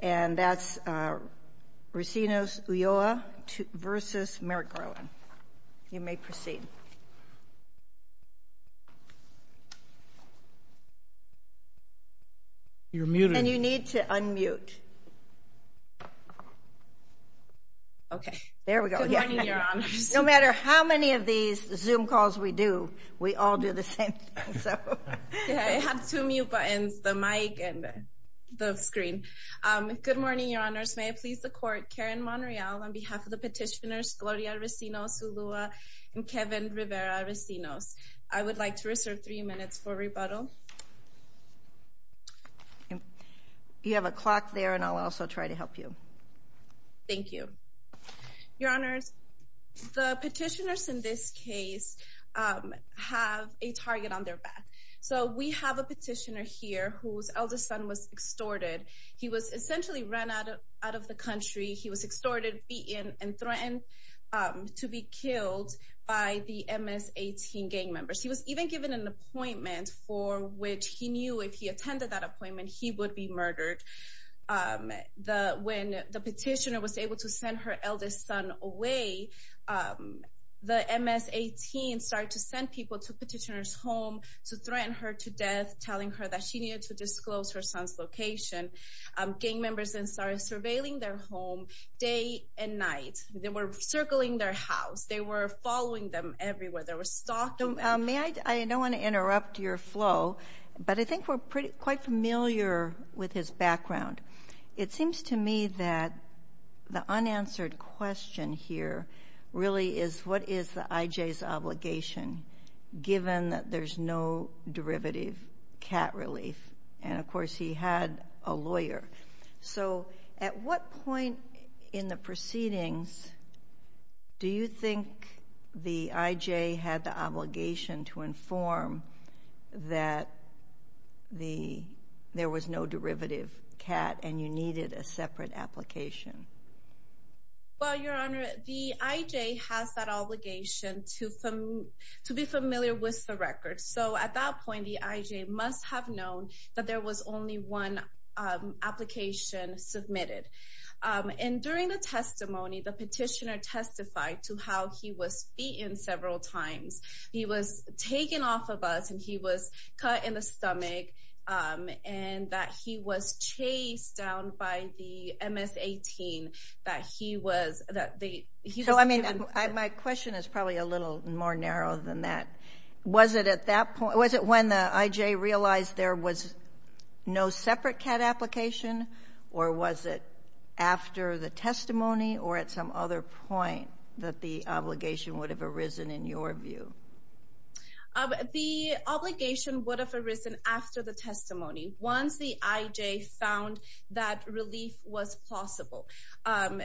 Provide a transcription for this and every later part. and that's Recinos-Ulloa v. Merrick Garland. You may proceed. You're muted. And you need to unmute. Okay there we go. No matter how many of these Zoom calls we do, we all do the same thing. I have two mute buttons, the mic and the screen. Good morning, Your Honors. May I please the court, Karen Monreal, on behalf of the petitioners Gloria Recinos-Ulloa and Kevin Rivera Recinos. I would like to reserve three minutes for rebuttal. You have a clock there and I'll also try to help you. Thank you. Your Honors, the petitioners in this case have a target on their back. So we have a He was essentially ran out of the country. He was extorted, beaten and threatened to be killed by the MS-18 gang members. He was even given an appointment for which he knew if he attended that appointment, he would be murdered. When the petitioner was able to send her eldest son away, the MS-18 started to send people to the petitioner's home to gang members and started surveilling their home day and night. They were circling their house. They were following them everywhere. They were stalking them. May I, I don't want to interrupt your flow, but I think we're pretty quite familiar with his background. It seems to me that the unanswered question here really is what is the IJ's obligation given that there's no derivative cat relief? And of course he had a lawyer. So at what point in the proceedings do you think the IJ had the obligation to inform that there was no derivative cat and you needed a separate application? Well, Your Honor, the IJ has that obligation to be familiar with the record. So at that point, the IJ must have known that there was only one application submitted. And during the testimony, the petitioner testified to how he was beaten several times. He was taken off of us and he was cut in the stomach and that he was chased down by the MS-18 gang that he was, that they, he was given. So I mean, my question is probably a little more narrow than that. Was it at that point, was it when the IJ realized there was no separate cat application or was it after the testimony or at some other point that the obligation would have arisen in your view? The obligation would have arisen after the testimony. Once the IJ found that relief was plausible.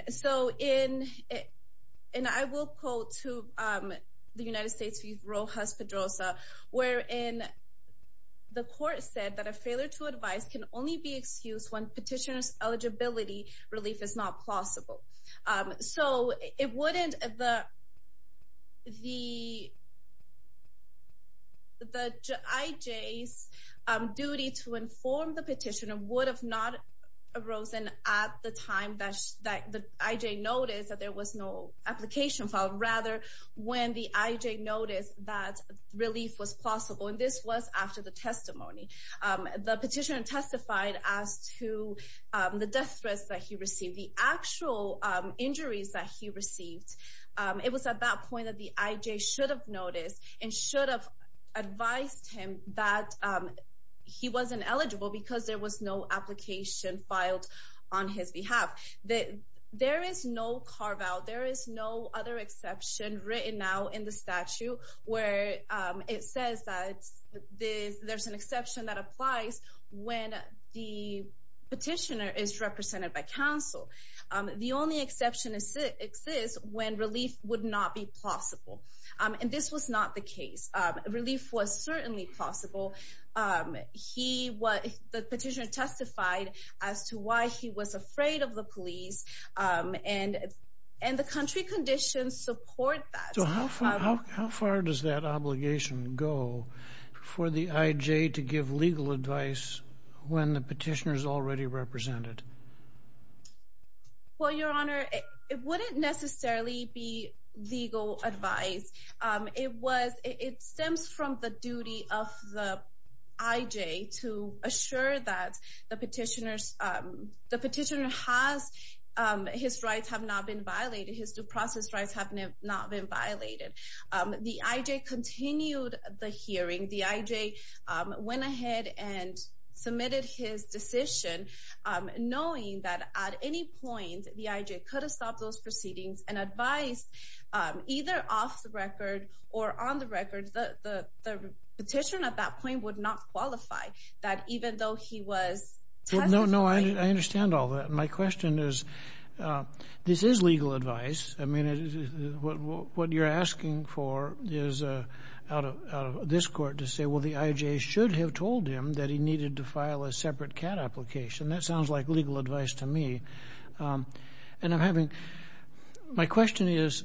So in, and I will quote to the United States Chief Rojas Pedrosa, wherein the court said that a failure to advise can only be excused when petitioner's eligibility relief is not plausible. So it wouldn't, the IJ's duty to petitioner would have not arisen at the time that the IJ noticed that there was no application filed, rather when the IJ noticed that relief was plausible. And this was after the testimony. The petitioner testified as to the death threats that he received, the actual injuries that he received. It was at that point that the IJ should have noticed and should have advised him that he wasn't eligible because there was no application filed on his behalf. There is no carve out, there is no other exception written now in the statute where it says that there's an exception that applies when the petitioner is represented by counsel. The only exception exists when relief would not be plausible. And this was not the case. Relief was certainly plausible. He was, the petitioner testified as to why he was afraid of the police and the country conditions support that. So how far does that obligation go for the IJ to give legal advice when the petitioner is already represented? Well, Your Honor, it wouldn't necessarily be legal advice. It was, it stems from both the duty of the IJ to assure that the petitioner has, his rights have not been violated, his due process rights have not been violated. The IJ continued the hearing. The IJ went ahead and submitted his decision knowing that at any point the IJ could have stopped those petitions. The petitioner at that point would not qualify, that even though he was testifying. No, no, I understand all that. My question is, this is legal advice. I mean, what you're asking for is out of this court to say, well, the IJ should have told him that he needed to file a separate CAT application. That sounds like legal advice to me. And I'm having, my question is,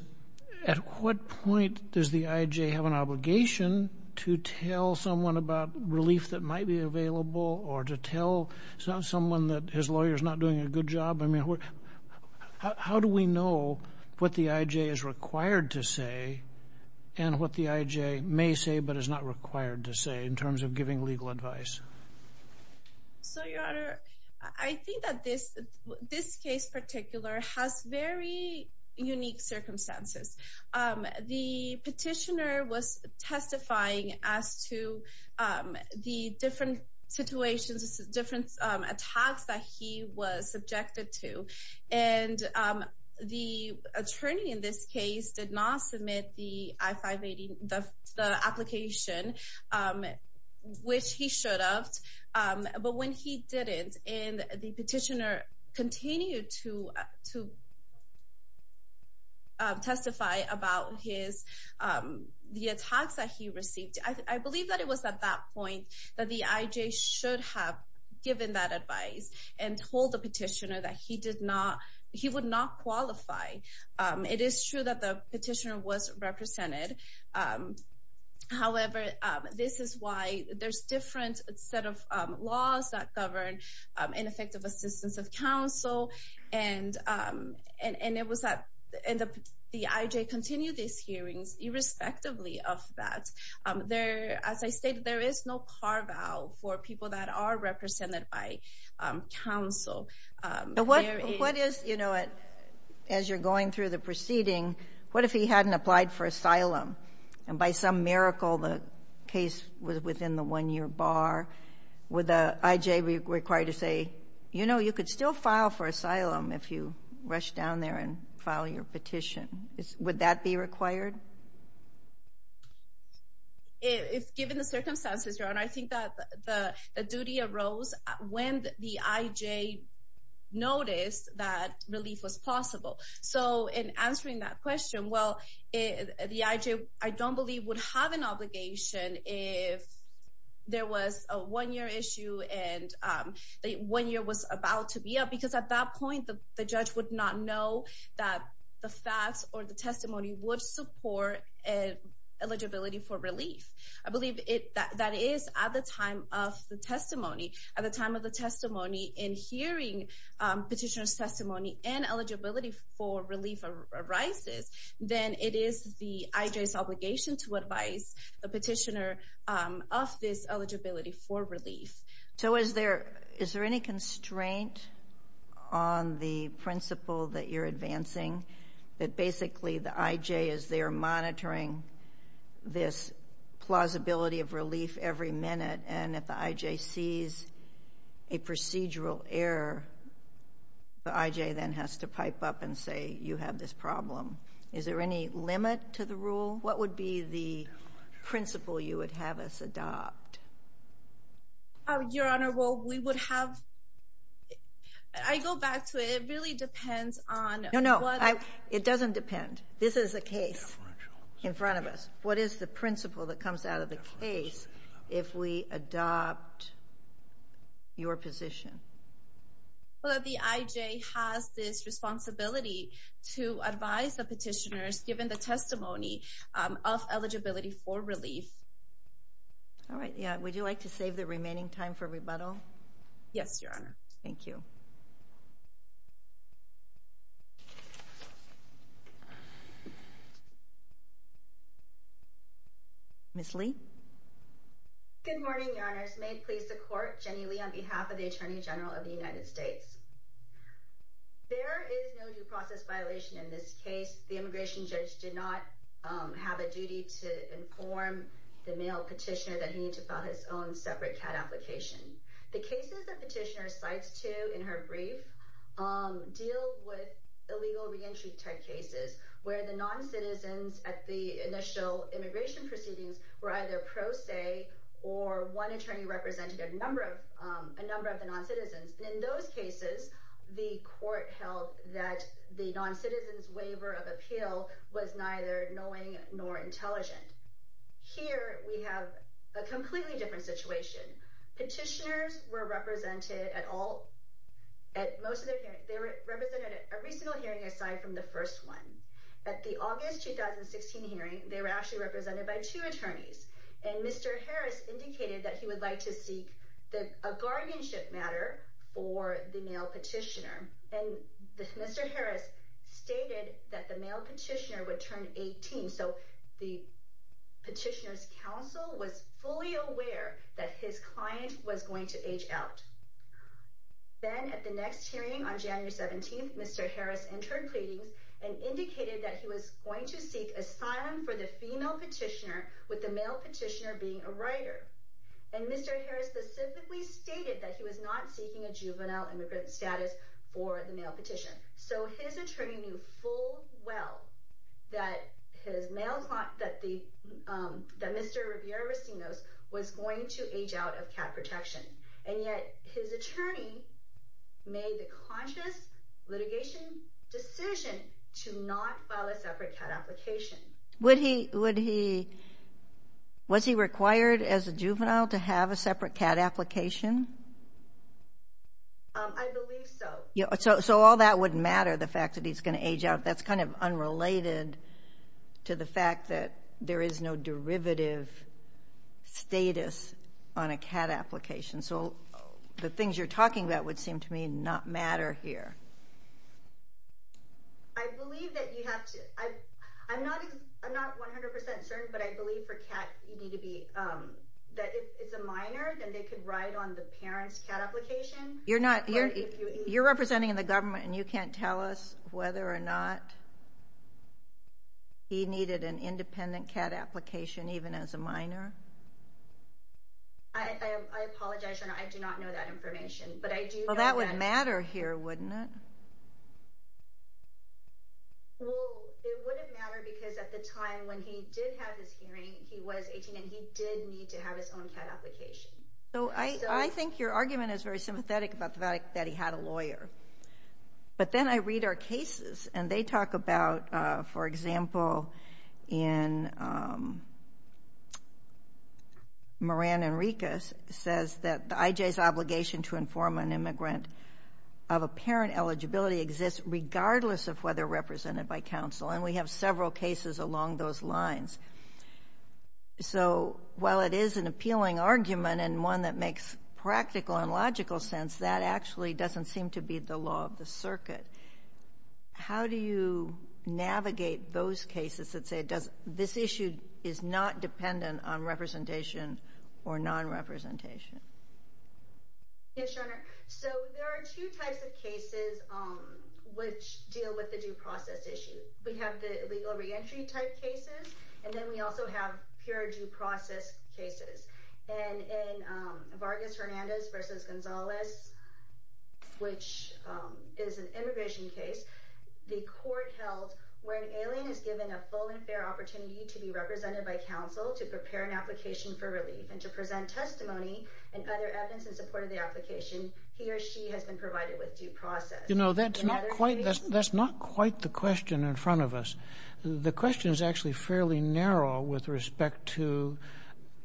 at what point does the IJ have an obligation to tell someone about relief that might be available or to tell someone that his lawyer is not doing a good job? I mean, how do we know what the IJ is required to say and what the IJ may say but is not required to say in terms of giving legal advice? So, Your Honor, I think that this case particular has very unique circumstances. The petitioner was testifying as to the different situations, different attacks that he was subjected to. And the attorney in this case did not submit the I-580, the application, which he should have. But when he didn't and the petitioner continued to testify about the attacks that he received, I believe that it was at that point that the IJ should have given that advice and told the petitioner that he would not qualify. It is true that the petitioner was subject to a set of laws that govern ineffective assistance of counsel. And the IJ continued these hearings irrespectively of that. As I stated, there is no carve-out for people that are represented by counsel. What is, as you're going through the proceeding, what if he hadn't applied for asylum and by some miracle the case was within the one-year bar? Would the IJ be required to say, you know, you could still file for asylum if you rush down there and file your petition. Would that be required? Given the circumstances, Your Honor, I think that the duty arose when the IJ noticed that he would have an obligation if there was a one-year issue and the one year was about to be up. Because at that point, the judge would not know that the facts or the testimony would support eligibility for relief. I believe that is at the time of the testimony. At the time of the testimony, in hearing petitioner's testimony and eligibility for relief arises, then it is the IJ's obligation to advise the petitioner of this eligibility for relief. So is there any constraint on the principle that you're advancing that basically the IJ is there monitoring this plausibility of relief every minute and if the IJ sees a procedural error, the IJ then has to pipe up and say, you have this problem. Is there any limit to the rule? What would be the principle you would have us adopt? Your Honor, well, we would have, I go back to it. It really depends on what It doesn't depend. This is a case in front of us. What is the principle that comes out of the case if we adopt your position? Well, the IJ has this responsibility to advise the petitioners given the testimony of eligibility for relief. All right. Would you like to save the remaining time for rebuttal? Yes, Your Honor. Thank you. Ms. Lee? Good morning, Your Honors. May it please the Court, Jennie Lee on behalf of the Attorney General of the United States. There is no due process violation in this case. The immigration judge did not have a duty to inform the male petitioner that he needs to file his own separate patent application. The cases the petitioner cites to in her brief deal with illegal reentry type cases where the noncitizens at the initial immigration proceedings were either pro se or one attorney represented a number of the noncitizens. In those cases, the Court held that the noncitizen's waiver of appeal was neither knowing nor intelligent. Here, we have a completely different situation. Petitioners were represented at most of their hearings. They were represented at every single hearing aside from the first one. At the August 2016 hearing, they were actually represented by two attorneys. And Mr. Harris indicated that he would like to seek a guardianship matter for the male petitioner. And Mr. Harris stated that the male petitioner would turn 18. So the petitioner's counsel was fully aware that his client was going to age out. Then at the next hearing on January 17th, Mr. Harris entered pleadings and indicated that he was going to seek asylum for the female petitioner with the male petitioner being a writer. And Mr. Harris specifically stated that he was not seeking a juvenile immigrant status for the male petitioner. So his attorney knew full well that his male client, that Mr. Riviere-Rosinos was going to age out of cat protection. And yet his attorney made the conscious litigation decision to not file a separate cat application. Would he, would he, was he required as a juvenile to have a separate cat application? I believe so. So all that wouldn't matter, the fact that he's going to age out. That's kind of unrelated to the fact that there is no derivative status on a cat application. So the things you're talking about would seem to me not matter here. I believe that you have to, I'm not 100% certain, but I believe for cat, you need to be, that if it's a minor, then they could write on the parent's cat application. You're not, you're representing the government and you can't tell us whether or not he needed an independent cat application even as a minor? I apologize, Your Honor, I do not know that information. Well, that would matter here, wouldn't it? Well, it wouldn't matter because at the time when he did have his hearing, he was 18 and he did need to have his own cat application. So I think your argument is very sympathetic about the fact that he had a lawyer. But then I read our cases and they talk about, for example, in Moran Enriquez says that the IJ's obligation to inform an immigrant of a parent eligibility exists regardless of whether represented by counsel. And we have several cases along those lines. So while it is an appealing argument and one that makes practical and logical sense, that actually doesn't seem to be the law of the circuit. How do you navigate those cases that say this issue is not dependent on representation or non-representation? Yes, Your Honor. So there are two types of cases which deal with the due process issue. We have the legal re-entry type cases and then we also have pure due process cases. And in Vargas-Hernandez v. Gonzalez, which is an immigration case, the court held where there is a fair opportunity to be represented by counsel to prepare an application for relief and to present testimony and other evidence in support of the application, he or she has been provided with due process. You know, that's not quite the question in front of us. The question is actually fairly narrow with respect to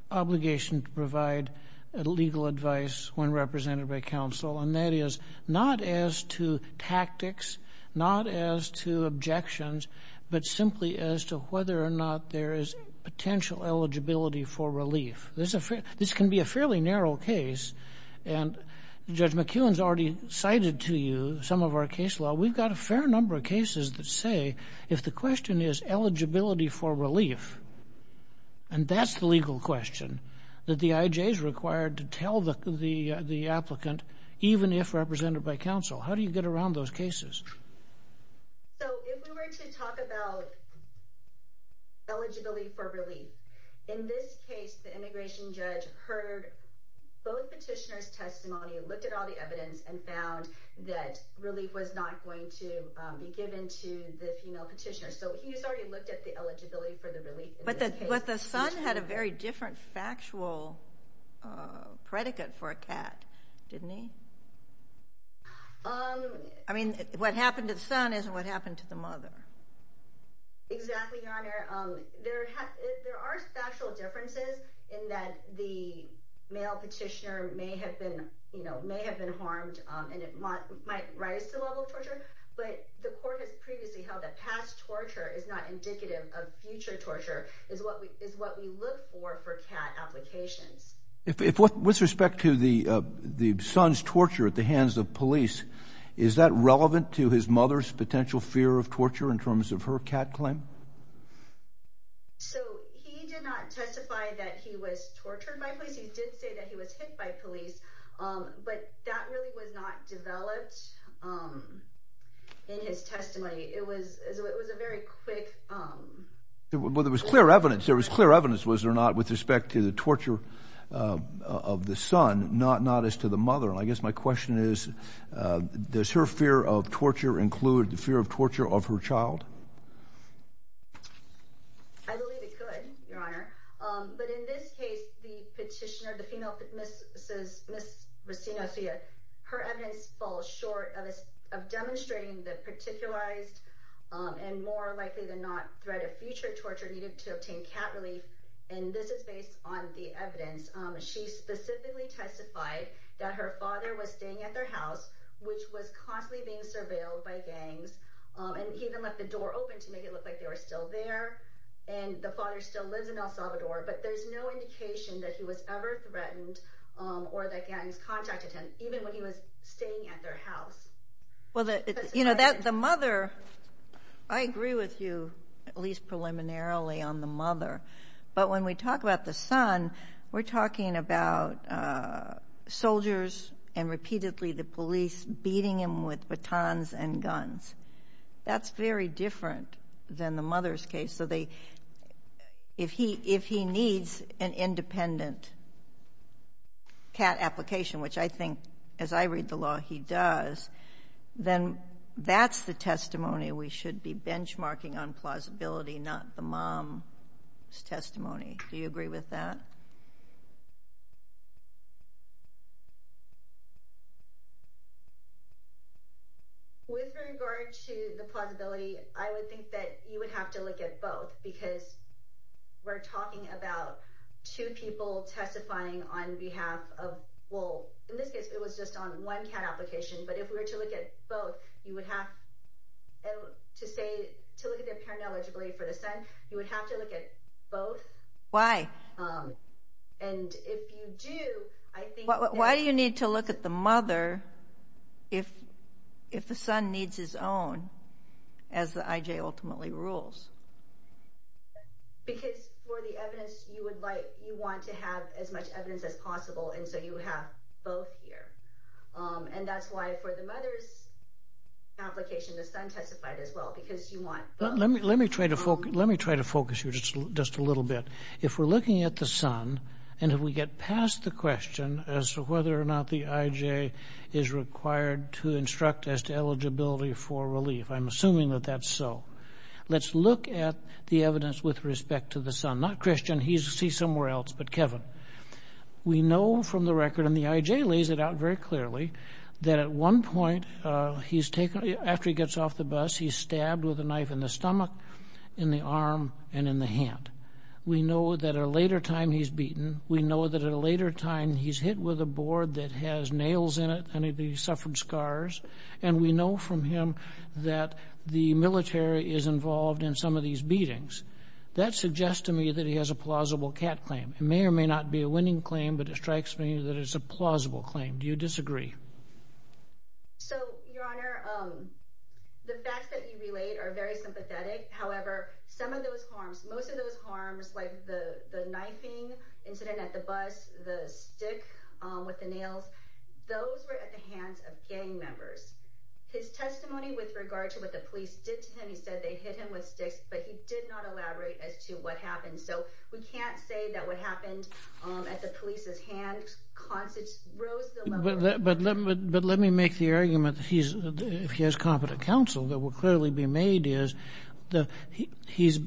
obligation to provide legal advice when represented by counsel. And that is not as to tactics, not as to objections, but simply as to whether or not there is potential eligibility for relief. This can be a fairly narrow case. And Judge McKeown has already cited to you some of our case law. We've got a fair number of cases that say if the question is eligibility for relief, and that's the legal question, that the IJ is required to tell the applicant, even if represented by counsel. How do you get around those cases? So if we were to talk about eligibility for relief, in this case the immigration judge heard both petitioners' testimony, looked at all the evidence, and found that relief was not going to be given to the female petitioner. So he has already looked at the eligibility for the relief. But the son had a very different factual predicate for a cat, didn't he? I mean, what happened to the son isn't what happened to the mother. Exactly, Your Honor. There are factual differences in that the male petitioner may have been harmed, and it might rise to the level of torture. But the court has previously held that past torture is not indicative of future torture, is what we look for for cat applications. With respect to the son's torture at the hands of police, is that relevant to his mother's potential fear of torture in terms of her cat claim? So he did not testify that he was tortured by police. He did say that he was hit by police. But that really was not developed in his testimony. It was a very quick... There was clear evidence, was there not, with respect to the torture of the son, not as to the mother. And I guess my question is, does her fear of torture include the fear of torture of her child? I believe it could, Your Honor. But in this case, the petitioner, the female, Ms. Racinocia, her evidence falls short of demonstrating the particularized and more likely than not threat of future torture needed to obtain cat relief. And this is based on the evidence. She specifically testified that her father was staying at their house, which was constantly being surveilled by gangs, and he even left the door open to make it look like they were still there. And the father still lives in El Salvador, but there's no indication that he was ever threatened or that gangs contacted him, even when he was staying at their house. Well, you know, the mother... I agree with you, at least preliminarily, on the mother. But when we talk about the son, we're talking about That's very different than the mother's case. If he needs an independent cat application, which I think, as I read the law, he does, then that's the testimony we should be benchmarking on plausibility, not the mom's testimony. Do you agree with that? With regard to the plausibility, I would think that you would have to look at both, because we're talking about two people testifying on behalf of... Well, in this case, it was just on one cat application, but if we were to look at both, you would have to say... To look at their parent eligibility for the son, you would have to look at both. Why? And if you do, I think... Why do you need to look at the mother if the son needs his own, as the IJ ultimately rules? Because for the evidence, you want to have as much evidence as possible, and so you have both here. And that's why for the mother's application, the son testified as well, because you want both. Let me try to focus you just a little bit. If we're looking at the son, and if we get past the question as to whether or not the IJ is required to instruct as to eligibility for relief, I'm assuming that that's so. Let's look at the evidence with respect to the son. Not Christian, he's somewhere else, but Kevin. We know from the record, and the IJ lays it out very clearly, that at one point, after he gets off the bus, he's stabbed with a knife in the stomach, in the arm, and in the hand. We know that at a later time, he's beaten. We know that at a later time, he's hit with a board that has nails in it, and he's suffered scars. And we know from him that the military is involved in some of these beatings. That suggests to me that he has a plausible CAT claim. It may or may not be a winning claim, but it strikes me that it's a plausible claim. Do you disagree? So, Your Honor, the facts that you relayed are very sympathetic. However, some of those harms, most of those harms, like the knifing incident at the bus, the stick with the nails, those were at the hands of gang members. His testimony with regard to what the police did to him, he said they hit him with sticks, but he did not elaborate as to what happened. So, we can't say that what happened at the police's hands rose the level of... But let me make the argument, if he has competent counsel, that will clearly be made is that he's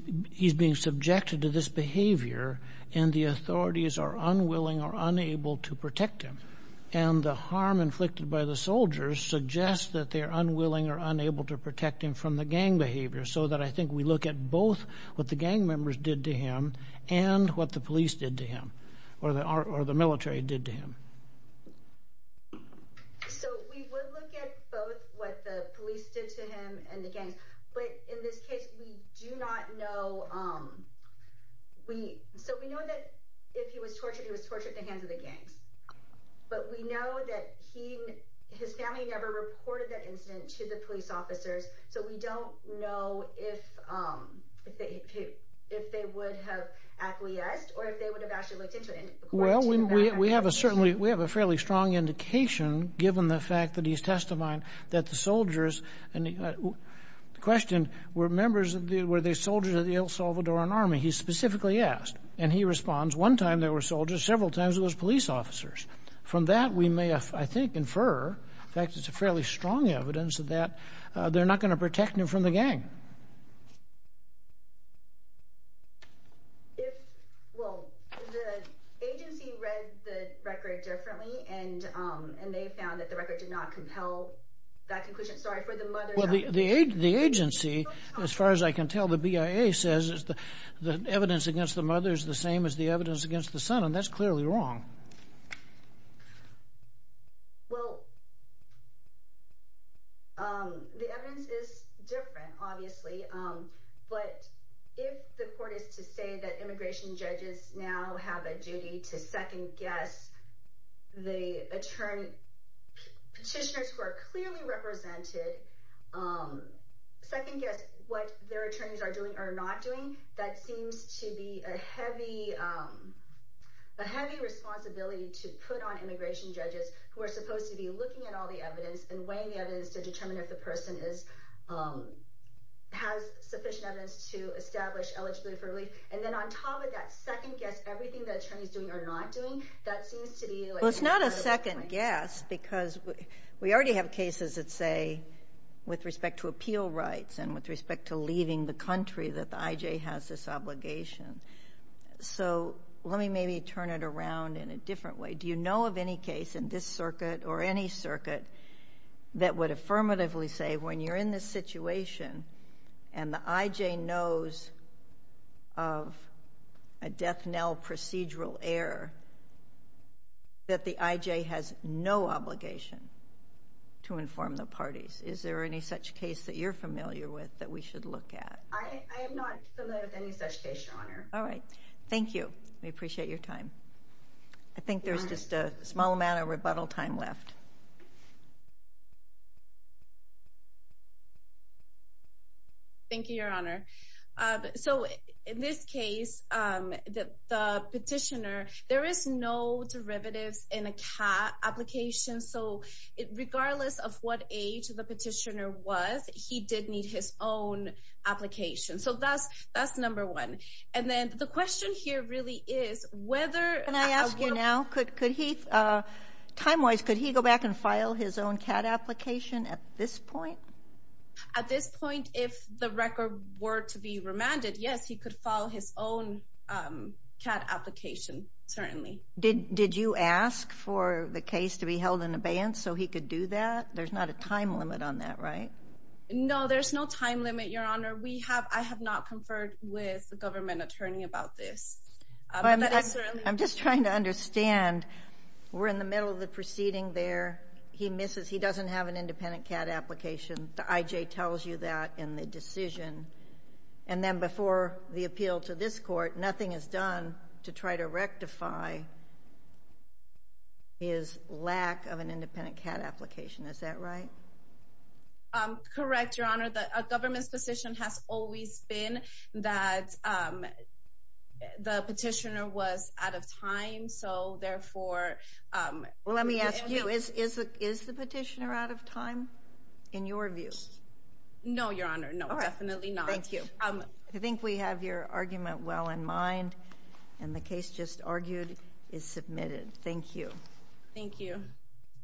being subjected to this behavior, and the authorities are unwilling or unable to protect him. And the harm inflicted by the soldiers suggests that they are unwilling or unable to protect him from the gang behavior, so that I think we look at both what the gang members did to him and what the police did to him, or the military did to him. So, we would look at both what the police did to him and the gangs, but in this case, we do not know... So, we know that if he was tortured, he was tortured at the hands of the gangs. But we know that his family never reported that incident to the police officers, so we don't know if they would have acquiesced or if they would have actually looked into it. Well, we have a fairly strong indication, given the fact that he's testified that the soldiers... The question, were they soldiers of the El Salvadoran Army? He specifically asked, and he responds, one time they were soldiers, several times it was police officers. From that, we may, I think, infer... In fact, it's a fairly strong evidence that they're not going to protect him from the gang. Well, the agency read the record differently and they found that the record did not compel that conclusion. Sorry, for the mother... Well, the agency, as far as I can tell, the BIA says the evidence against the mother is the same as the evidence against the son, and that's clearly wrong. Well... The evidence is different, obviously. But if the court is to say that immigration judges now have a duty to second-guess the attorney... Petitioners who are clearly represented second-guess what their attorneys are doing or not doing, that seems to be a heavy responsibility to put on immigration judges who are supposed to be looking at all the evidence and weighing the evidence to determine if the person has sufficient evidence to establish eligibility for relief. And then on top of that second-guess everything the attorney's doing or not doing, that seems to be... Well, it's not a second-guess, because we already have cases that say, with respect to appeal rights and with respect to leaving the country, that the I.J. has this obligation. So let me maybe turn it around in a different way. Do you know of any case in this circuit or any circuit that would affirmatively say, when you're in this situation and the I.J. knows of a death knell procedural error, that the I.J. has no obligation to inform the parties? Is there any such case that you're familiar with that we should look at? I am not familiar with any such case, Your Honor. All right. Thank you. We appreciate your time. I think there's just a small amount of rebuttal time left. Thank you, Your Honor. So in this case, the petitioner, there is no derivatives in a CAAT application. So regardless of what age the petitioner was, he did need his own application. So that's number one. And then the question here really is whether... Can I ask you now? Could he, time-wise, could he go back and file his own CAAT application at this point? At this point, if the record were to be remanded, yes, he could file his own CAAT application, certainly. Did you ask for the case to be held in abeyance so he could do that? There's not a time limit on that, right? No, there's no time limit, Your Honor. I have not conferred with the government attorney about this. I'm just trying to understand. We're in the middle of the proceeding there. He misses... He doesn't have an independent CAAT application. The IJ tells you that in the decision. And then before the appeal to this court, nothing is done to try to rectify his lack of an independent CAAT application. Is that right? Correct, Your Honor. The government's position has always been that the petitioner was out of time, so therefore... Well, let me ask you, is the petitioner out of time, in your view? No, Your Honor, no, definitely not. Thank you. I think we have your argument well in mind, and the case just argued is submitted. Thank you. Thank you.